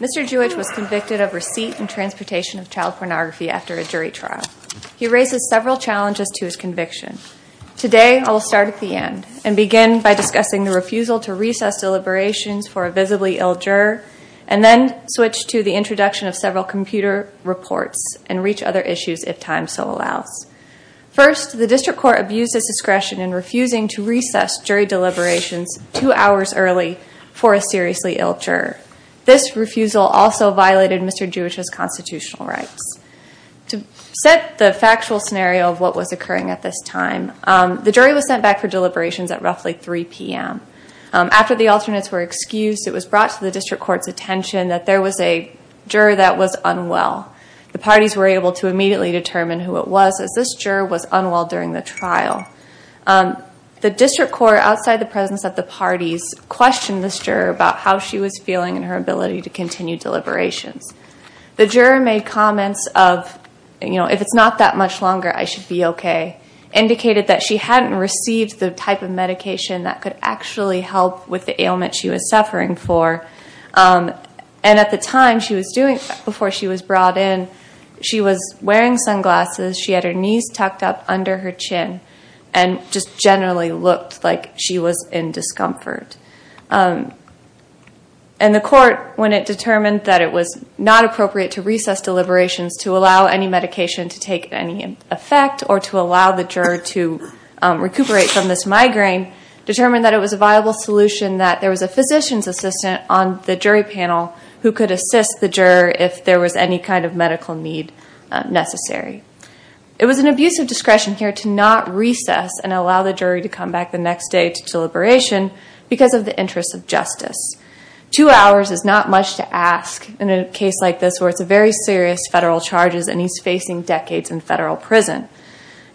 Mr. Juhic was convicted of receipt and transportation of child pornography after a jury trial. He raises several challenges to his conviction. Today, I'll start at the end and begin by discussing the refusal to recess deliberations for a visibly ill juror, and then switch to the introduction of several computer reports and reach other issues if time so allows. First, the district court abused its discretion in refusing to recess jury deliberations two hours early for a seriously ill juror. This refusal also violated Mr. Juhic's constitutional rights. To set the factual scenario of what was occurring at this time, the jury was sent back for deliberations at roughly 3 PM. After the alternates were excused, it was brought to the district court's attention that there was a juror that was unwell. The parties were able to immediately determine who it was, as this juror was unwell during the trial. The district court, outside the presence of the parties, questioned this juror about how she was feeling and her ability to continue deliberations. The juror made comments of, if it's not that much longer, I should be OK, indicated that she hadn't received the type of medication that could actually help with the ailment she was suffering for. And at the time, before she was brought in, she was wearing sunglasses. She had her knees tucked up under her chin and just generally looked like she was in discomfort. And the court, when it determined that it was not appropriate to recess deliberations to allow any medication to take any effect or to allow the juror to recuperate from this migraine, determined that it was a viable solution that there was a physician's assistant on the jury panel who could assist the juror if there was any kind of medical need necessary. It was an abuse of discretion here to not recess and allow the jury to come back the next day to deliberation because of the interests of justice. Two hours is not much to ask in a case like this, where it's a very serious federal charges and he's facing decades in federal prison.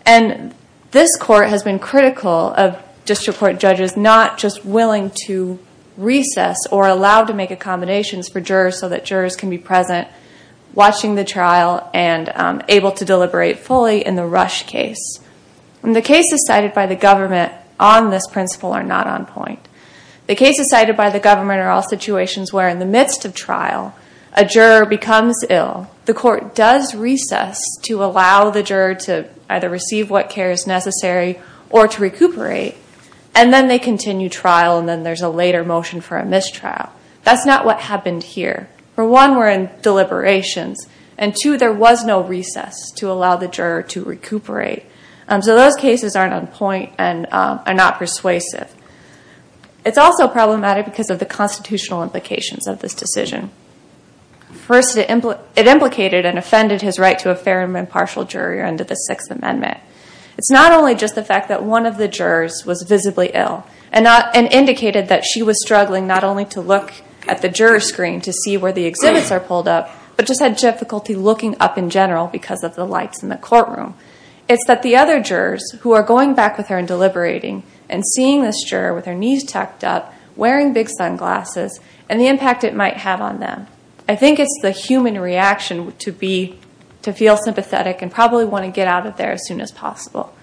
And this court has been critical of district court judges not just willing to recess or allow to make accommodations for jurors so that jurors can be present watching the trial and able to deliberate fully in the rush case. And the cases cited by the government on this principle are not on point. The cases cited by the government are all situations where, in the midst of trial, a juror becomes ill. The court does recess to allow the juror to either receive what care is necessary or to recuperate. And then they continue trial, and then there's a later motion for a mistrial. That's not what happened here. For one, we're in deliberations. And two, there was no recess to allow the juror to recuperate. So those cases aren't on point and are not persuasive. It's also problematic because of the constitutional implications of this decision. First, it implicated and offended his right to a fair and impartial jury under the Sixth Amendment. It's not only just the fact that one of the jurors was visibly ill and indicated that she was struggling not only to look at the juror screen to see where the exhibits are pulled up, but just had difficulty looking up in general because of the lights in the courtroom. It's that the other jurors, who are going back with her and deliberating, and seeing this juror with her knees tucked up, wearing big sunglasses, and the impact it might have on them. I think it's the human reaction to feel sympathetic and probably want to get out of there as soon as possible.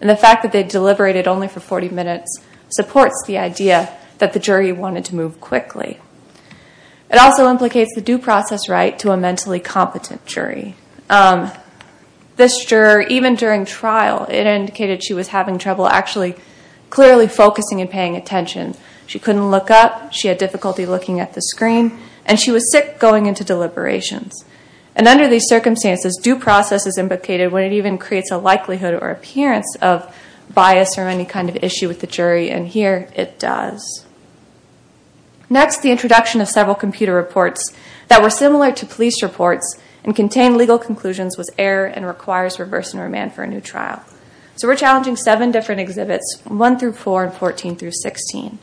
And the fact that they deliberated only for 40 minutes supports the idea that the jury wanted to move quickly. It also implicates the due process right to a mentally competent jury. This juror, even during trial, it indicated she was having trouble actually clearly focusing and paying attention. She couldn't look up. She had difficulty looking at the screen. And she was sick going into deliberations. And under these circumstances, due process is implicated when it even creates a likelihood or appearance of bias or any kind of issue with the jury. And here, it does. Next, the introduction of several computer reports that were similar to police reports and contain legal conclusions was error and requires reverse enroman for a new trial. So we're challenging seven different exhibits, 1 through 4 and 14 through 16.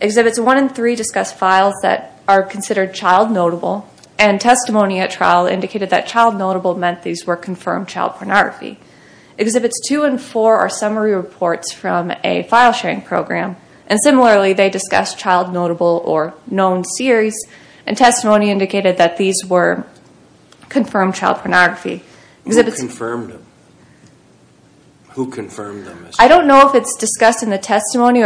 Exhibits 1 and 3 discuss files that are considered child notable. And testimony at trial indicated that child notable meant these were confirmed child pornography. Exhibits 2 and 4 are summary reports from a file sharing program. And similarly, they discuss child notable or known series. And testimony indicated that these were confirmed child pornography. Who confirmed them? Who confirmed them? I don't know if it's discussed in the testimony.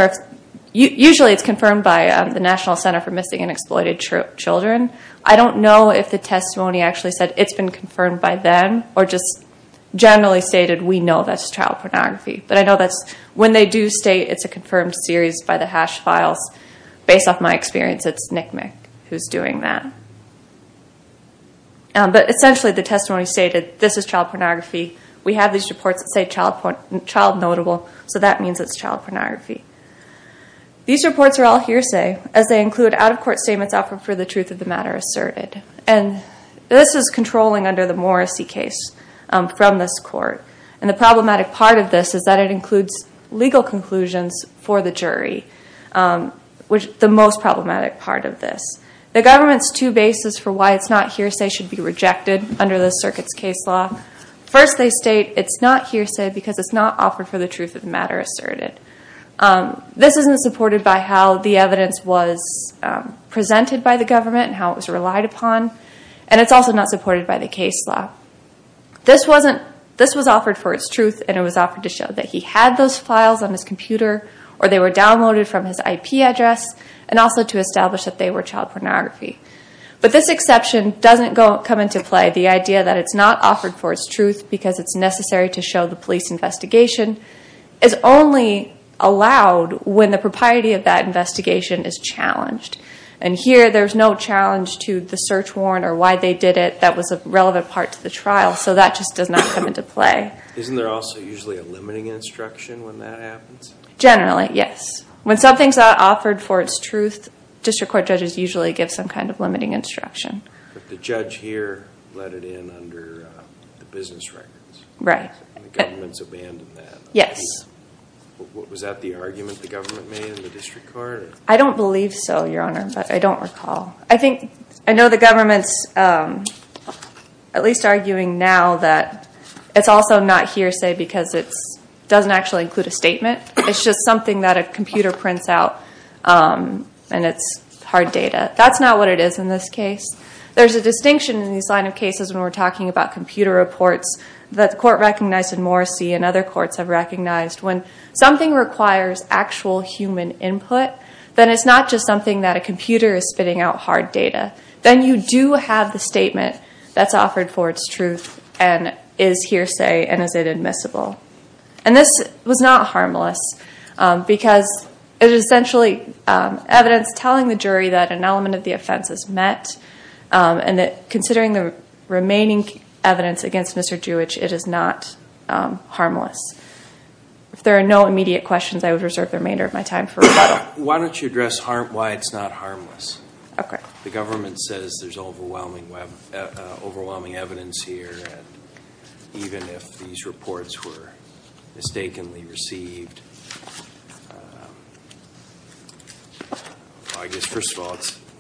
Usually, it's confirmed by the National Center for Missing and Exploited Children. I don't know if the testimony actually said it's been confirmed by them or just generally stated, we know that's child pornography. But I know that when they do state it's a confirmed series by the hash files, based off my experience, it's NCMEC who's doing that. But essentially, the testimony stated, this is child pornography. We have these reports that say child notable. So that means it's child pornography. These reports are all hearsay, as they include out-of-court statements offered for the truth of the matter asserted. And this is controlling under the Morrissey case from this court. And the problematic part of this is that it includes legal conclusions for the jury, which is the most problematic part of this. The government's two bases for why it's not hearsay should be rejected under the circuit's case law. First, they state it's not hearsay because it's not offered for the truth of the matter asserted. This isn't supported by how the evidence was presented by the government and how it was relied upon. And it's also not supported by the case law. This was offered for its truth, and it was offered to show that he had those files on his computer, or they were downloaded from his IP address, and also to establish that they were child pornography. But this exception doesn't come into play. The idea that it's not offered for its truth because it's necessary to show the police investigation is only allowed when the propriety of that investigation is challenged. And here, there's no challenge to the search warrant or why they did it that was a relevant part to the trial. So that just does not come into play. Isn't there also usually a limiting instruction when that happens? Generally, yes. When something's offered for its truth, district court judges usually give some kind of limiting instruction. The judge here let it in under the business records. Right. And the government's abandoned that. Yes. Was that the argument the government made in the district court? I don't believe so, Your Honor, but I don't recall. I know the government's at least arguing now that it's also not hearsay because it doesn't actually include a statement. It's just something that a computer prints out, and it's hard data. That's not what it is in this case. There's a distinction in this line of cases when we're talking about computer reports that the court recognized in Morrissey and other courts have recognized. When something requires actual human input, then it's not just something that a computer is spitting out hard data. Then you do have the statement that's offered for its truth and is hearsay and is it admissible. And this was not harmless because it is essentially evidence telling the jury that an element of the offense is met, and that considering the remaining evidence against Mr. Jewish, it is not harmless. If there are no immediate questions, I would reserve the remainder of my time for rebuttal. Why don't you address why it's not harmless? OK. The government says there's overwhelming evidence here. Even if these reports were mistakenly received, I guess, first of all,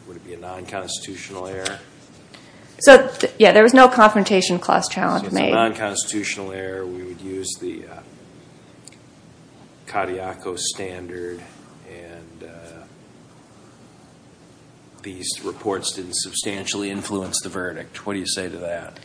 would it be a non-constitutional error? So yeah, there was no confrontation clause challenge made. So if it's a non-constitutional error, we would use the Kadiakos standard. And these reports didn't substantially influence the verdict. What do you say to that?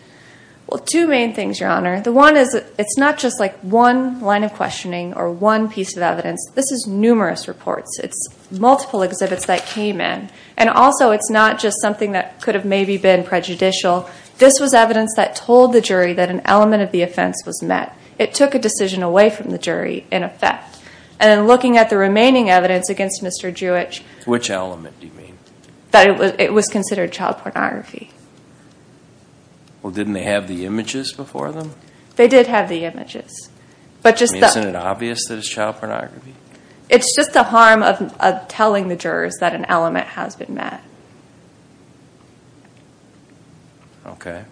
Well, two main things, Your Honor. The one is it's not just like one line of questioning or one piece of evidence. This is numerous reports. It's multiple exhibits that came in. And also, it's not just something that could have maybe been prejudicial. This was evidence that told the jury that an element of the offense was met. It took a decision away from the jury, in effect. And looking at the remaining evidence against Mr. Jewich. Which element do you mean? That it was considered child pornography. Well, didn't they have the images before them? They did have the images. But just that. Isn't it obvious that it's child pornography? It's just the harm of telling the jurors that an element has been met. OK.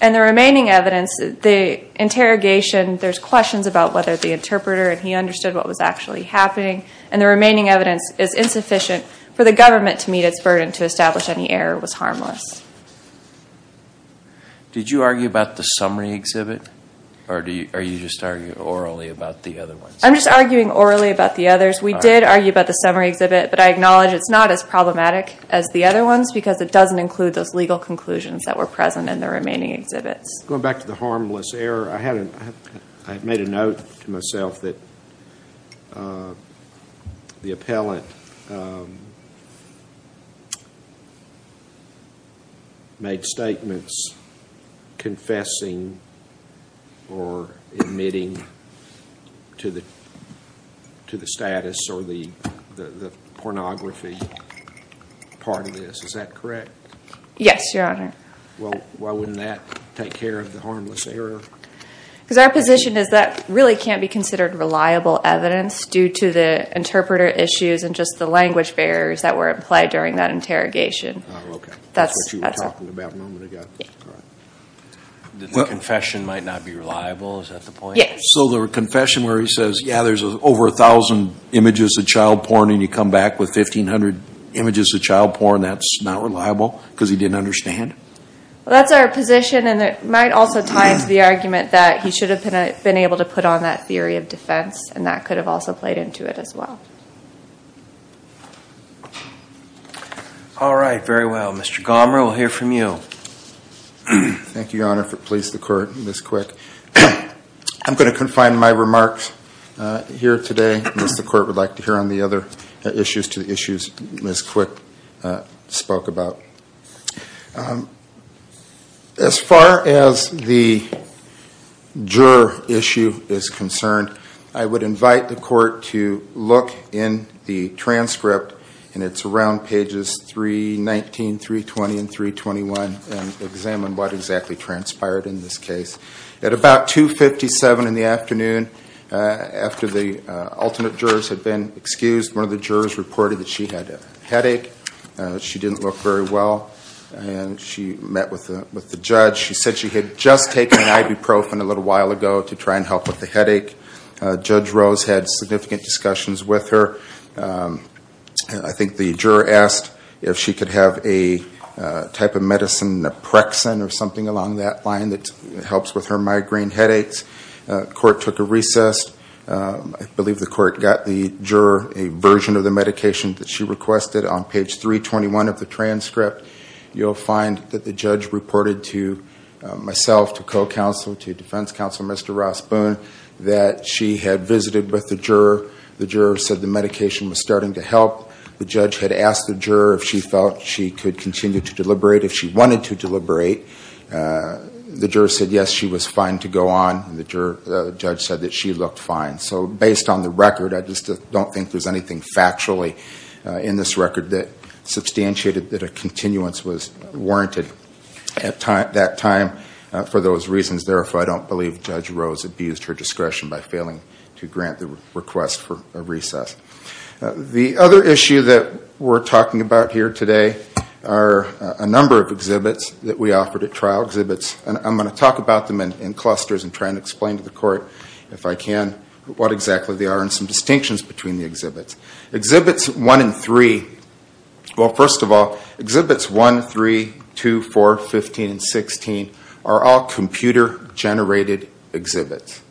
And the remaining evidence, the interrogation, there's questions about whether the interpreter and he understood what was actually happening. And the remaining evidence is insufficient for the government to meet its burden to establish any error was harmless. Did you argue about the summary exhibit? Or are you just arguing orally about the other ones? I'm just arguing orally about the others. We did argue about the summary exhibit. But I acknowledge it's not as problematic as the other ones. Because it doesn't include those legal conclusions that are in the remaining exhibits. Going back to the harmless error, I had made a note to myself that the appellant made statements confessing or admitting to the status or the pornography part of this. Is that correct? Yes, Your Honor. Why wouldn't that take care of the harmless error? Because our position is that really can't be considered reliable evidence due to the interpreter issues and just the language barriers that were implied during that interrogation. That's what you were talking about a moment ago. The confession might not be reliable. Is that the point? So the confession where he says, yeah, there's over 1,000 images of child porn. And you come back with 1,500 images of child porn. That's not reliable because he didn't understand? Well, that's our position. And it might also tie into the argument that he should have been able to put on that theory of defense. And that could have also played into it as well. All right, very well. Mr. Gomer, we'll hear from you. Thank you, Your Honor, for the police, the court, Ms. Quick. I'm going to confine my remarks here today. The court would like to hear on the other issues to the issues Ms. Quick spoke about. As far as the juror issue is concerned, I would invite the court to look in the transcript, and it's around pages 319, 320, and 321, and examine what exactly transpired in this case. At about 2.57 in the afternoon, after the alternate jurors had been excused, one of the jurors reported that she had a headache. She didn't look very well, and she met with the judge. She said she had just taken ibuprofen a little while ago to try and help with the headache. Judge Rose had significant discussions with her. I think the juror asked if she could have a type of medicine, naprexin, or something along that line that helps with her migraine headaches. Court took a recess. I believe the court got the juror a version of the medication that she requested on page 321 of the transcript. You'll find that the judge reported to myself, to co-counsel, to defense counsel Mr. Ross Boone, that she had visited with the juror. The juror said the medication was starting to help. The judge had asked the juror if she felt she could continue to deliberate if she wanted to deliberate. The juror said, yes, she was fine to go on. And the judge said that she looked fine. So based on the record, I just don't think there's anything factually in this record that substantiated that a continuance was warranted at that time for those reasons. Therefore, I don't believe Judge Rose abused her discretion by failing to grant the request for a recess. The other issue that we're talking about here today are a number of exhibits that we offered at trial exhibits. And I'm going to talk about them in clusters and try and explain to the court, if I can, what exactly they are and some distinctions between the exhibits. Exhibits 1 and 3, well, first of all, exhibits 1, 3, 2, 4, 15, and 16 are all computer-generated exhibits.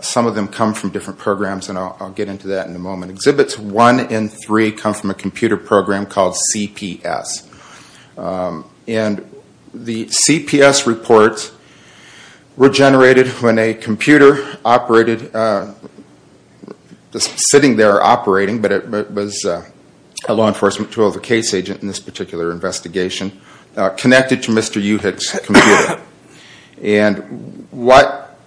Some of them come from different programs. And I'll get into that in a moment. Exhibits 1 and 3 come from a computer program called CPS. And the CPS reports were generated when a computer operated, sitting there operating, but it was a law enforcement tool, the case agent in this particular investigation, connected to Mr. Uhig's computer. And what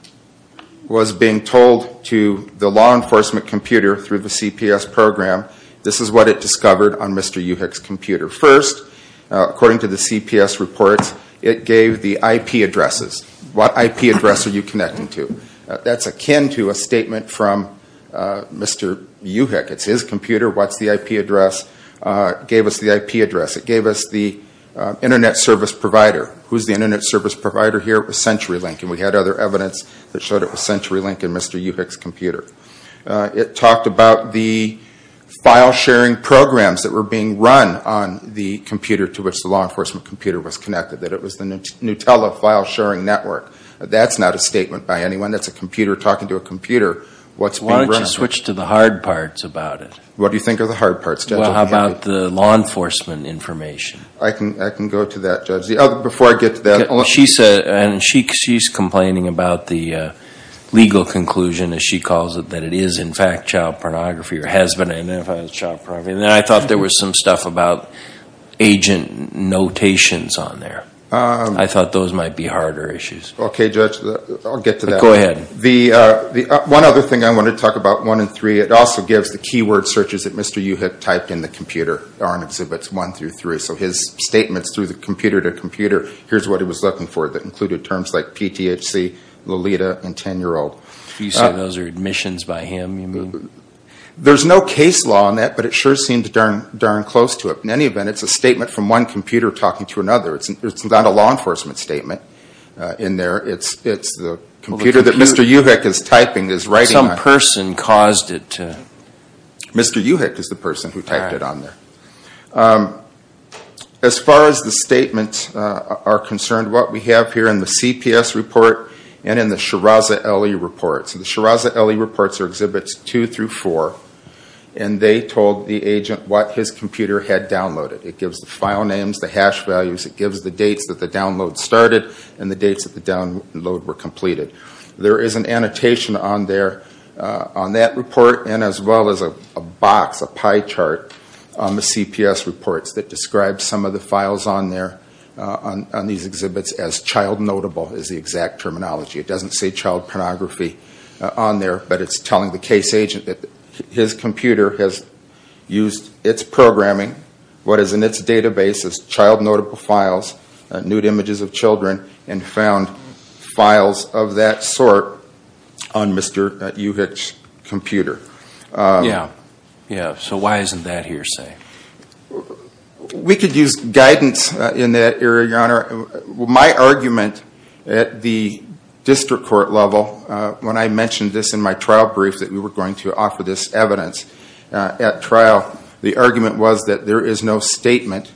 was being told to the law enforcement computer through the CPS program, this is what it discovered on Mr. Uhig's computer. First, according to the CPS reports, it gave the IP addresses. What IP address are you connecting to? That's akin to a statement from Mr. Uhig. It's his computer. What's the IP address? Gave us the IP address. It gave us the internet service provider. Who's the internet service provider here? It was CenturyLink. And we had other evidence that showed it was CenturyLink in Mr. Uhig's computer. It talked about the file-sharing programs that were being run on the computer to which the law enforcement computer was connected, that it was the Nutella file-sharing network. That's not a statement by anyone. That's a computer talking to a computer. What's being run? Why don't you switch to the hard parts about it? What do you think are the hard parts, Judge? Well, how about the law enforcement information? I can go to that, Judge. Before I get to that, I'll let you. And she's complaining about the legal conclusion, as she calls it, that it is, in fact, child pornography, or has been identified as child pornography. And then I thought there was some stuff about agent notations on there. I thought those might be harder issues. OK, Judge, I'll get to that. Go ahead. One other thing I want to talk about, one in three, it also gives the keyword searches that Mr. Uhig had typed in the computer on Exhibits 1 through 3. So his statements through the computer to computer, here's what he was looking for that included terms like PTHC, Lolita, and 10-year-old. You said those are admissions by him, you mean? There's no case law on that, but it sure seemed darn close to it. In any event, it's a statement from one computer talking to another. It's not a law enforcement statement in there. It's the computer that Mr. Uhig is typing, is writing on. Some person caused it to. Mr. Uhig is the person who typed it on there. As far as the statements are concerned, what we have here in the CPS report and in the Shiraz Ali reports. So the Shiraz Ali reports are Exhibits 2 through 4, and they told the agent what his computer had downloaded. It gives the file names, the hash values, it gives the dates that the download started, and the dates that the download were completed. There is an annotation on there, on that report, and as well as a box, a pie chart on the CPS reports that describes some of the files on these exhibits as child notable is the exact terminology. It doesn't say child pornography on there, but it's telling the case agent that his computer has used its programming, what is in its database as child notable files, nude images of children, and found files of that sort on Mr. Uhig's computer. Yeah, yeah. So why isn't that hearsay? We could use guidance in that area, Your Honor. My argument at the district court level, when I mentioned this in my trial brief that we were going to offer this evidence at trial, the argument was that there is no statement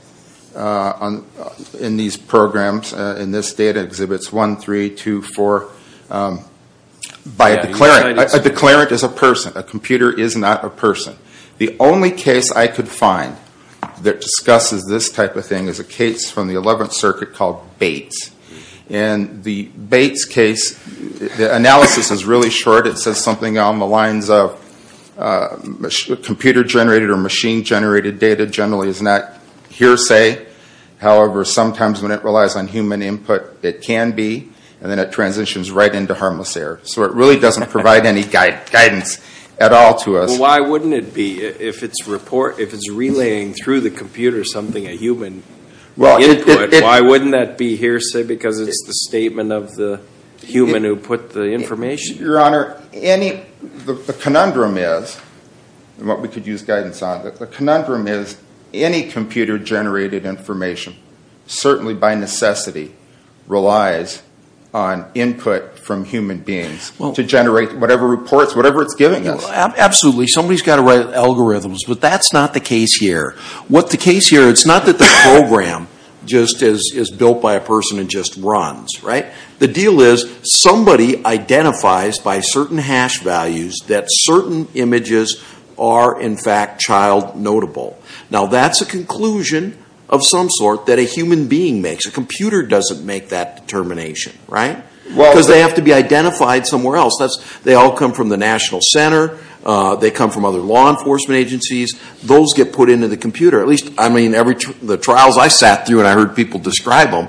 in these programs, in this data exhibits 1, 3, 2, 4, by a declarant. A declarant is a person. A computer is not a person. The only case I could find that discusses this type of thing is a case from the 11th Circuit called Bates. In the Bates case, the analysis is really short. It says something on the lines of computer generated or machine generated data generally is not hearsay. However, sometimes when it relies on human input, it can be, and then it transitions right into harmless error. So it really doesn't provide any guidance at all to us. Well, why wouldn't it be? If it's relaying through the computer something and it's not relaying a human input, why wouldn't that be hearsay because it's the statement of the human who put the information? Your Honor, the conundrum is, and what we could use guidance on, the conundrum is any computer generated information certainly by necessity relies on input from human beings to generate whatever reports, whatever it's giving us. Absolutely. Somebody's got to write algorithms, but that's not the case here. What the case here, it's not that the program just is built by a person and just runs, right? The deal is somebody identifies by certain hash values that certain images are in fact child notable. Now that's a conclusion of some sort that a human being makes. A computer doesn't make that determination, right? Because they have to be identified somewhere else. They all come from the National Center. They come from other law enforcement agencies. Those get put into the computer. At least, I mean, the trials I sat through and I heard people describe them,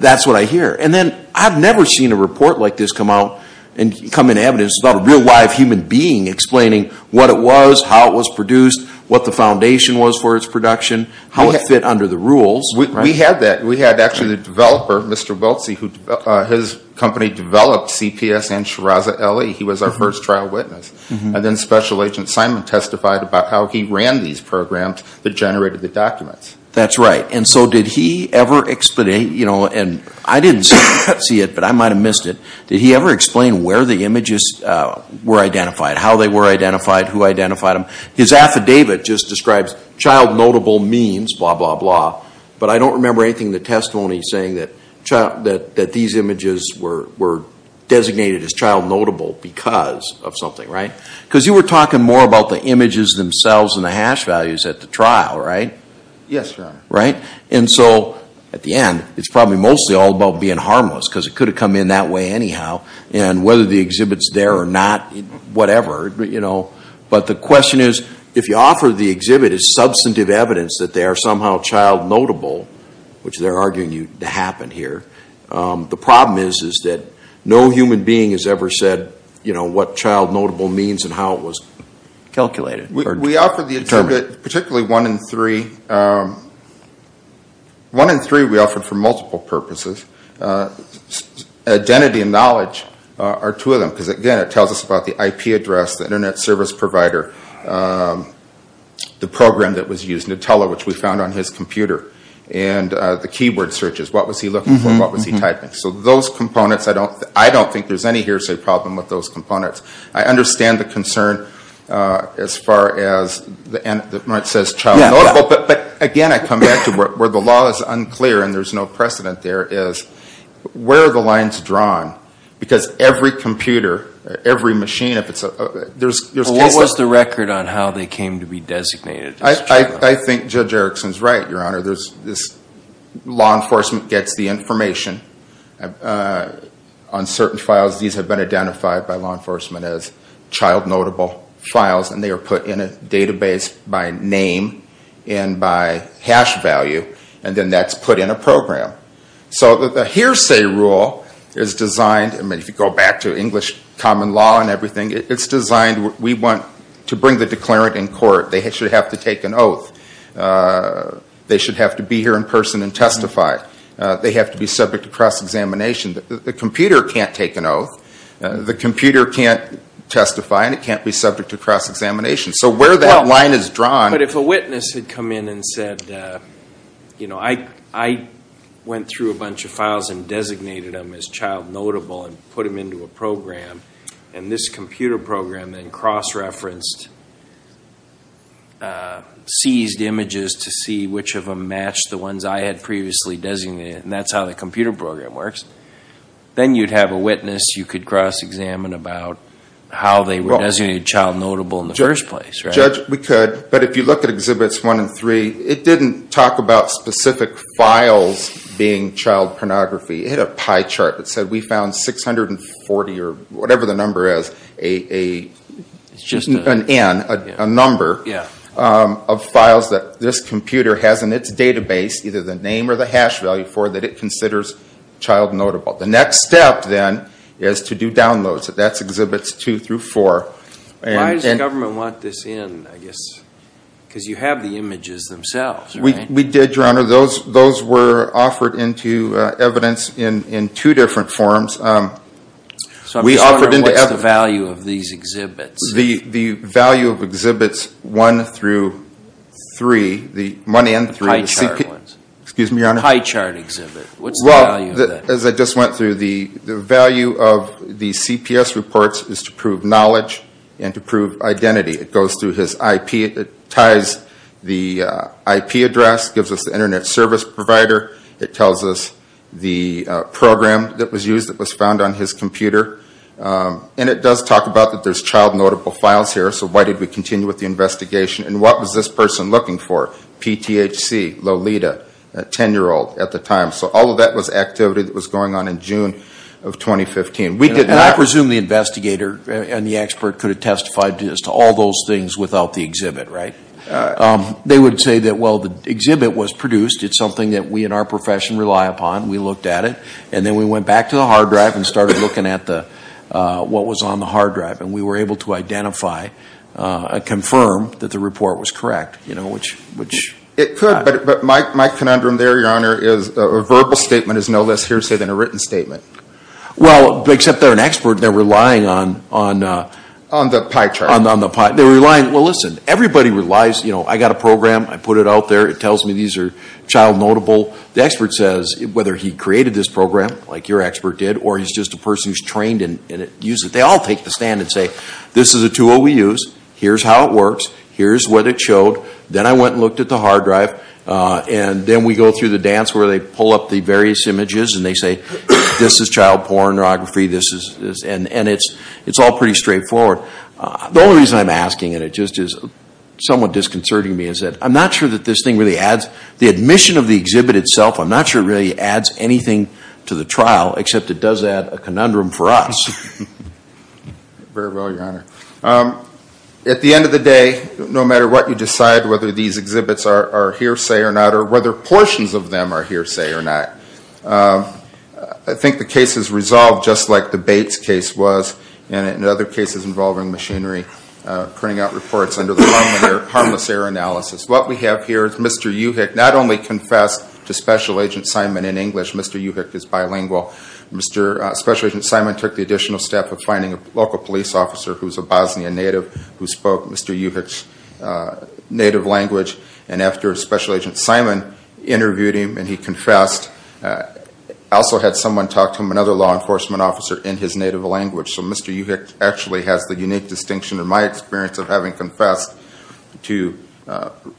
that's what I hear. And then I've never seen a report like this come out and come in evidence about a real live human being explaining what it was, how it was produced, what the foundation was for its production, how it fit under the rules. We had that. We had actually the developer, Mr. Weltsy, who his company developed CPS and Shiraza LE. He was our first trial witness. And then Special Agent Simon testified about how he ran these programs that generated the documents. That's right. And so did he ever explain, and I didn't see it, but I might have missed it. Did he ever explain where the images were identified, how they were identified, who identified them? His affidavit just describes child notable means, blah, blah, blah. But I don't remember anything in the testimony saying that these images were designated as child notable because of something, right? Because you were talking more about the images themselves and the hash values at the trial, right? Yes, Your Honor. Right? And so at the end, it's probably mostly all about being harmless because it could have come in that way anyhow. And whether the exhibit's there or not, whatever. But the question is, if you offer the exhibit as substantive evidence that they are somehow child notable, which they're arguing to happen here, the problem is that no human being has ever said what child notable means and how it was calculated. We offered the exhibit, particularly one in three. One in three we offered for multiple purposes. Identity and knowledge are two of them because, again, it tells us about the IP address, the internet service provider, the program that was used, Nutella, which we found on his computer, and the keyword searches. What was he looking for and what was he typing? So those components, I don't think there's any hearsay problem with those components. I understand the concern as far as, when it says child notable, but again, I come back to where the law is unclear and there's no precedent there is, where are the lines drawn? Because every computer, every machine, if it's a, there's cases. Well, what was the record on how they came to be designated as child notable? I think Judge Erickson's right, Your Honor. There's this law enforcement gets the information on certain files. These have been identified by law enforcement as child notable files and they are put in a database by name and by hash value and then that's put in a program. So the hearsay rule is designed, I mean, if you go back to English common law and everything, it's designed, we want to bring the declarant in court. They should have to take an oath. They should have to be here in person and testify. They have to be subject to cross-examination. The computer can't take an oath. The computer can't testify and it can't be subject to cross-examination. So where that line is drawn. But if a witness had come in and said, I went through a bunch of files and designated them as child notable and put them into a program and this computer program then cross-referenced, seized images to see which of them match the ones I had previously designated and that's how the computer program works. Then you'd have a witness, you could cross-examine about how they were designated child notable in the first place. Judge, we could, but if you look at Exhibits 1 and 3, it didn't talk about specific files being child pornography. It had a pie chart that said we found 640 or whatever the number is, an N, a number of files that this computer has in its database, either the name or the hash value for it that it considers child notable. The next step then is to do downloads. That's Exhibits 2 through 4. Why does the government want this in, I guess? Because you have the images themselves, right? We did, Your Honor. Those were offered into evidence in two different forms. So I'm just wondering what's the value of these exhibits? The value of Exhibits 1 through 3, the 1 and 3, the CPS. The pie chart ones. Excuse me, Your Honor. The pie chart exhibit. What's the value of that? Well, as I just went through, the value of the CPS reports is to prove knowledge and to prove identity. It goes through his IP, it ties the IP address, gives us the internet service provider. It tells us the program that was used, that was found on his computer. And it does talk about that there's child notable files here, so why did we continue with the investigation? And what was this person looking for? PTHC, Lolita, a 10-year-old at the time. So all of that was activity that was going on in June of 2015. And I presume the investigator and the expert could have testified to all those things without the exhibit, right? They would say that, well, the exhibit was produced. It's something that we in our profession rely upon. We looked at it. And then we went back to the hard drive and started looking at what was on the hard drive. And we were able to identify and confirm that the report was correct, which... It could, but my conundrum there, Your Honor, is a verbal statement is no less hearsay than a written statement. Well, except they're an expert, they're relying on... On the pie chart. On the pie. They're relying, well, listen, everybody relies, I got a program, I put it out there, it tells me these are child notable. The expert says, whether he created this program, like your expert did, or he's just a person who's trained and used it. They all take the stand and say, this is a tool we use. Here's how it works. Here's what it showed. Then I went and looked at the hard drive. And then we go through the dance where they pull up the various images and they say, this is child pornography. This is... And it's all pretty straightforward. The only reason I'm asking, and it just is somewhat disconcerting to me, is that I'm not sure that this thing really adds... The admission of the exhibit itself, I'm not sure it really adds anything to the trial, except it does add a conundrum for us. Very well, Your Honor. At the end of the day, no matter what you decide, whether these exhibits are hearsay or not, or whether portions of them are hearsay or not, I think the case is resolved just like the Bates case was, and in other cases involving machinery, printing out reports under the harmless error analysis. What we have here is Mr. Uhig, not only confessed to Special Agent Simon in English, Mr. Uhig is bilingual. Special Agent Simon took the additional test of finding a local police officer who's a Bosnian native who spoke Mr. Uhig's native language, and after Special Agent Simon interviewed him and he confessed, also had someone talk to him, another law enforcement officer in his native language. So Mr. Uhig actually has the unique distinction in my experience of having confessed to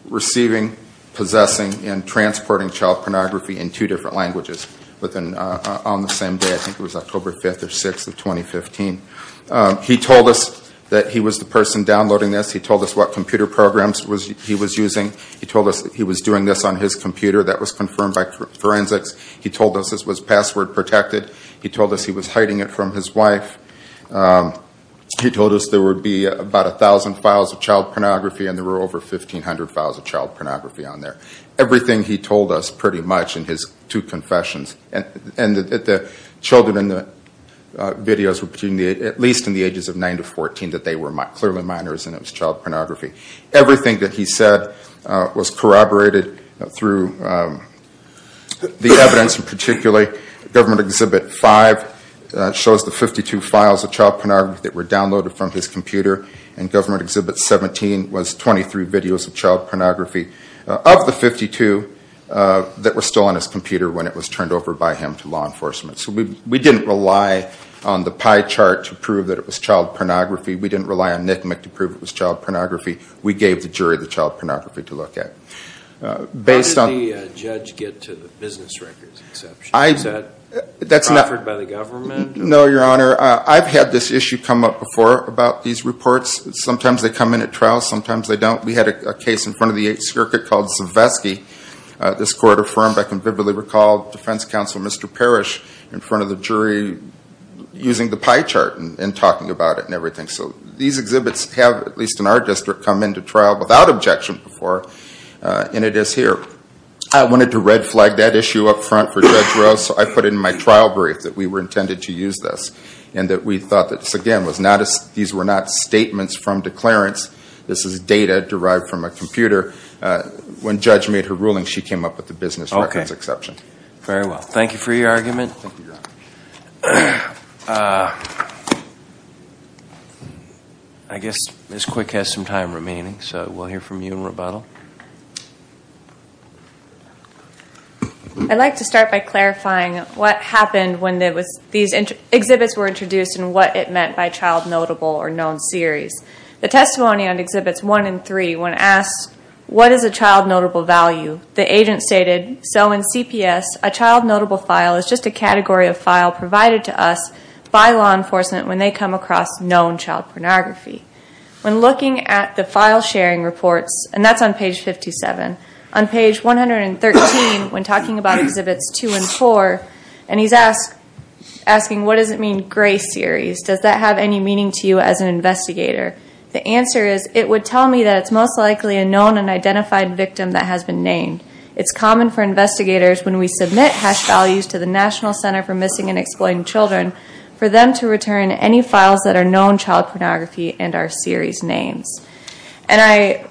receiving, possessing, and transporting child pornography in two different languages on the same day. I think it was October 5th or 6th of 2015. He told us that he was the person downloading this. He told us what computer programs he was using. He told us that he was doing this on his computer that was confirmed by forensics. He told us this was password protected. He told us he was hiding it from his wife. He told us there would be about 1,000 files of child pornography, and there were over 1,500 files of child pornography on there. Everything he told us pretty much in his two confessions, and that the children in the videos were between at least in the ages of nine to 14 that they were clearly minors and it was child pornography. Everything that he said was corroborated through the evidence in particular. Government Exhibit 5 shows the 52 files of child pornography that were downloaded from his computer, and Government Exhibit 17 was 23 videos of child pornography. Of the 52 that were still on his computer when it was turned over by him to law enforcement. So we didn't rely on the pie chart to prove that it was child pornography. We didn't rely on NCMEC to prove it was child pornography. We gave the jury the child pornography to look at. Based on- How does the judge get to the business records exception? Is that offered by the government? No, Your Honor. I've had this issue come up before about these reports. Sometimes they come in at trial, sometimes they don't. We had a case in front of the Eighth Circuit called Zvesky. This court affirmed, I can vividly recall, Defense Counsel Mr. Parrish in front of the jury using the pie chart and talking about it and everything. So these exhibits have, at least in our district, come into trial without objection before, and it is here. I wanted to red flag that issue up front for Judge Rose, so I put it in my trial brief that we were intended to use this. And that we thought that, again, these were not statements from declarants. This is data derived from a computer. When Judge made her ruling, she came up with the business records exception. Very well. Thank you for your argument. Thank you, Your Honor. I guess Ms. Quick has some time remaining, so we'll hear from you in rebuttal. I'd like to start by clarifying what happened when these exhibits were introduced and what it meant by child notable or known series. The testimony on Exhibits 1 and 3, when asked, what is a child notable value, the agent stated, so in CPS, a child notable file is just a category of file provided to us by law enforcement when they come across known child pornography. When looking at the file sharing reports, and that's on page 57, on page 113, when talking about Exhibits 2 and 4, and he's asking, what does it mean gray series? Does that have any meaning to you as an investigator? The answer is, it would tell me that it's most likely a known and identified victim that has been named. It's common for investigators, when we submit hash values to the National Center for Missing and Exploited Children, for them to return any files that are known child pornography and are series names. And I,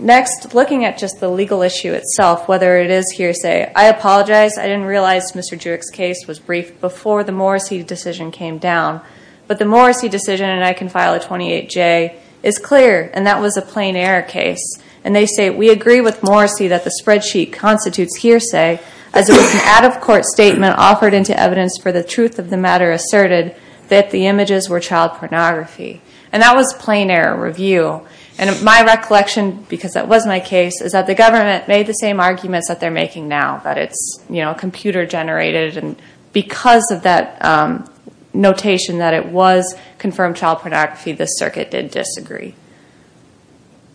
next, looking at just the legal issue itself, whether it is hearsay, I apologize, I didn't realize Mr. Jewick's case was briefed before the Morrissey decision came down. But the Morrissey decision, and I can file a 28J, is clear, and that was a plain error case. And they say, we agree with Morrissey that the spreadsheet constitutes hearsay, as it was an out-of-court statement offered into evidence for the truth of the matter asserted that the images were child pornography. And that was plain error review. And my recollection, because that was my case, is that the government made the same arguments that they're making now, that it's computer-generated, and because of that notation, that it was confirmed child pornography, the circuit did disagree.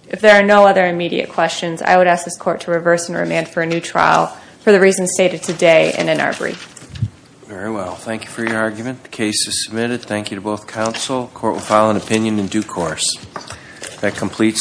If there are no other immediate questions, I would ask this court to reverse and remand for a new trial, for the reasons stated today and in our brief. Very well, thank you for your argument. The case is submitted. Thank you to both counsel. Court will file an opinion in due course. That completes.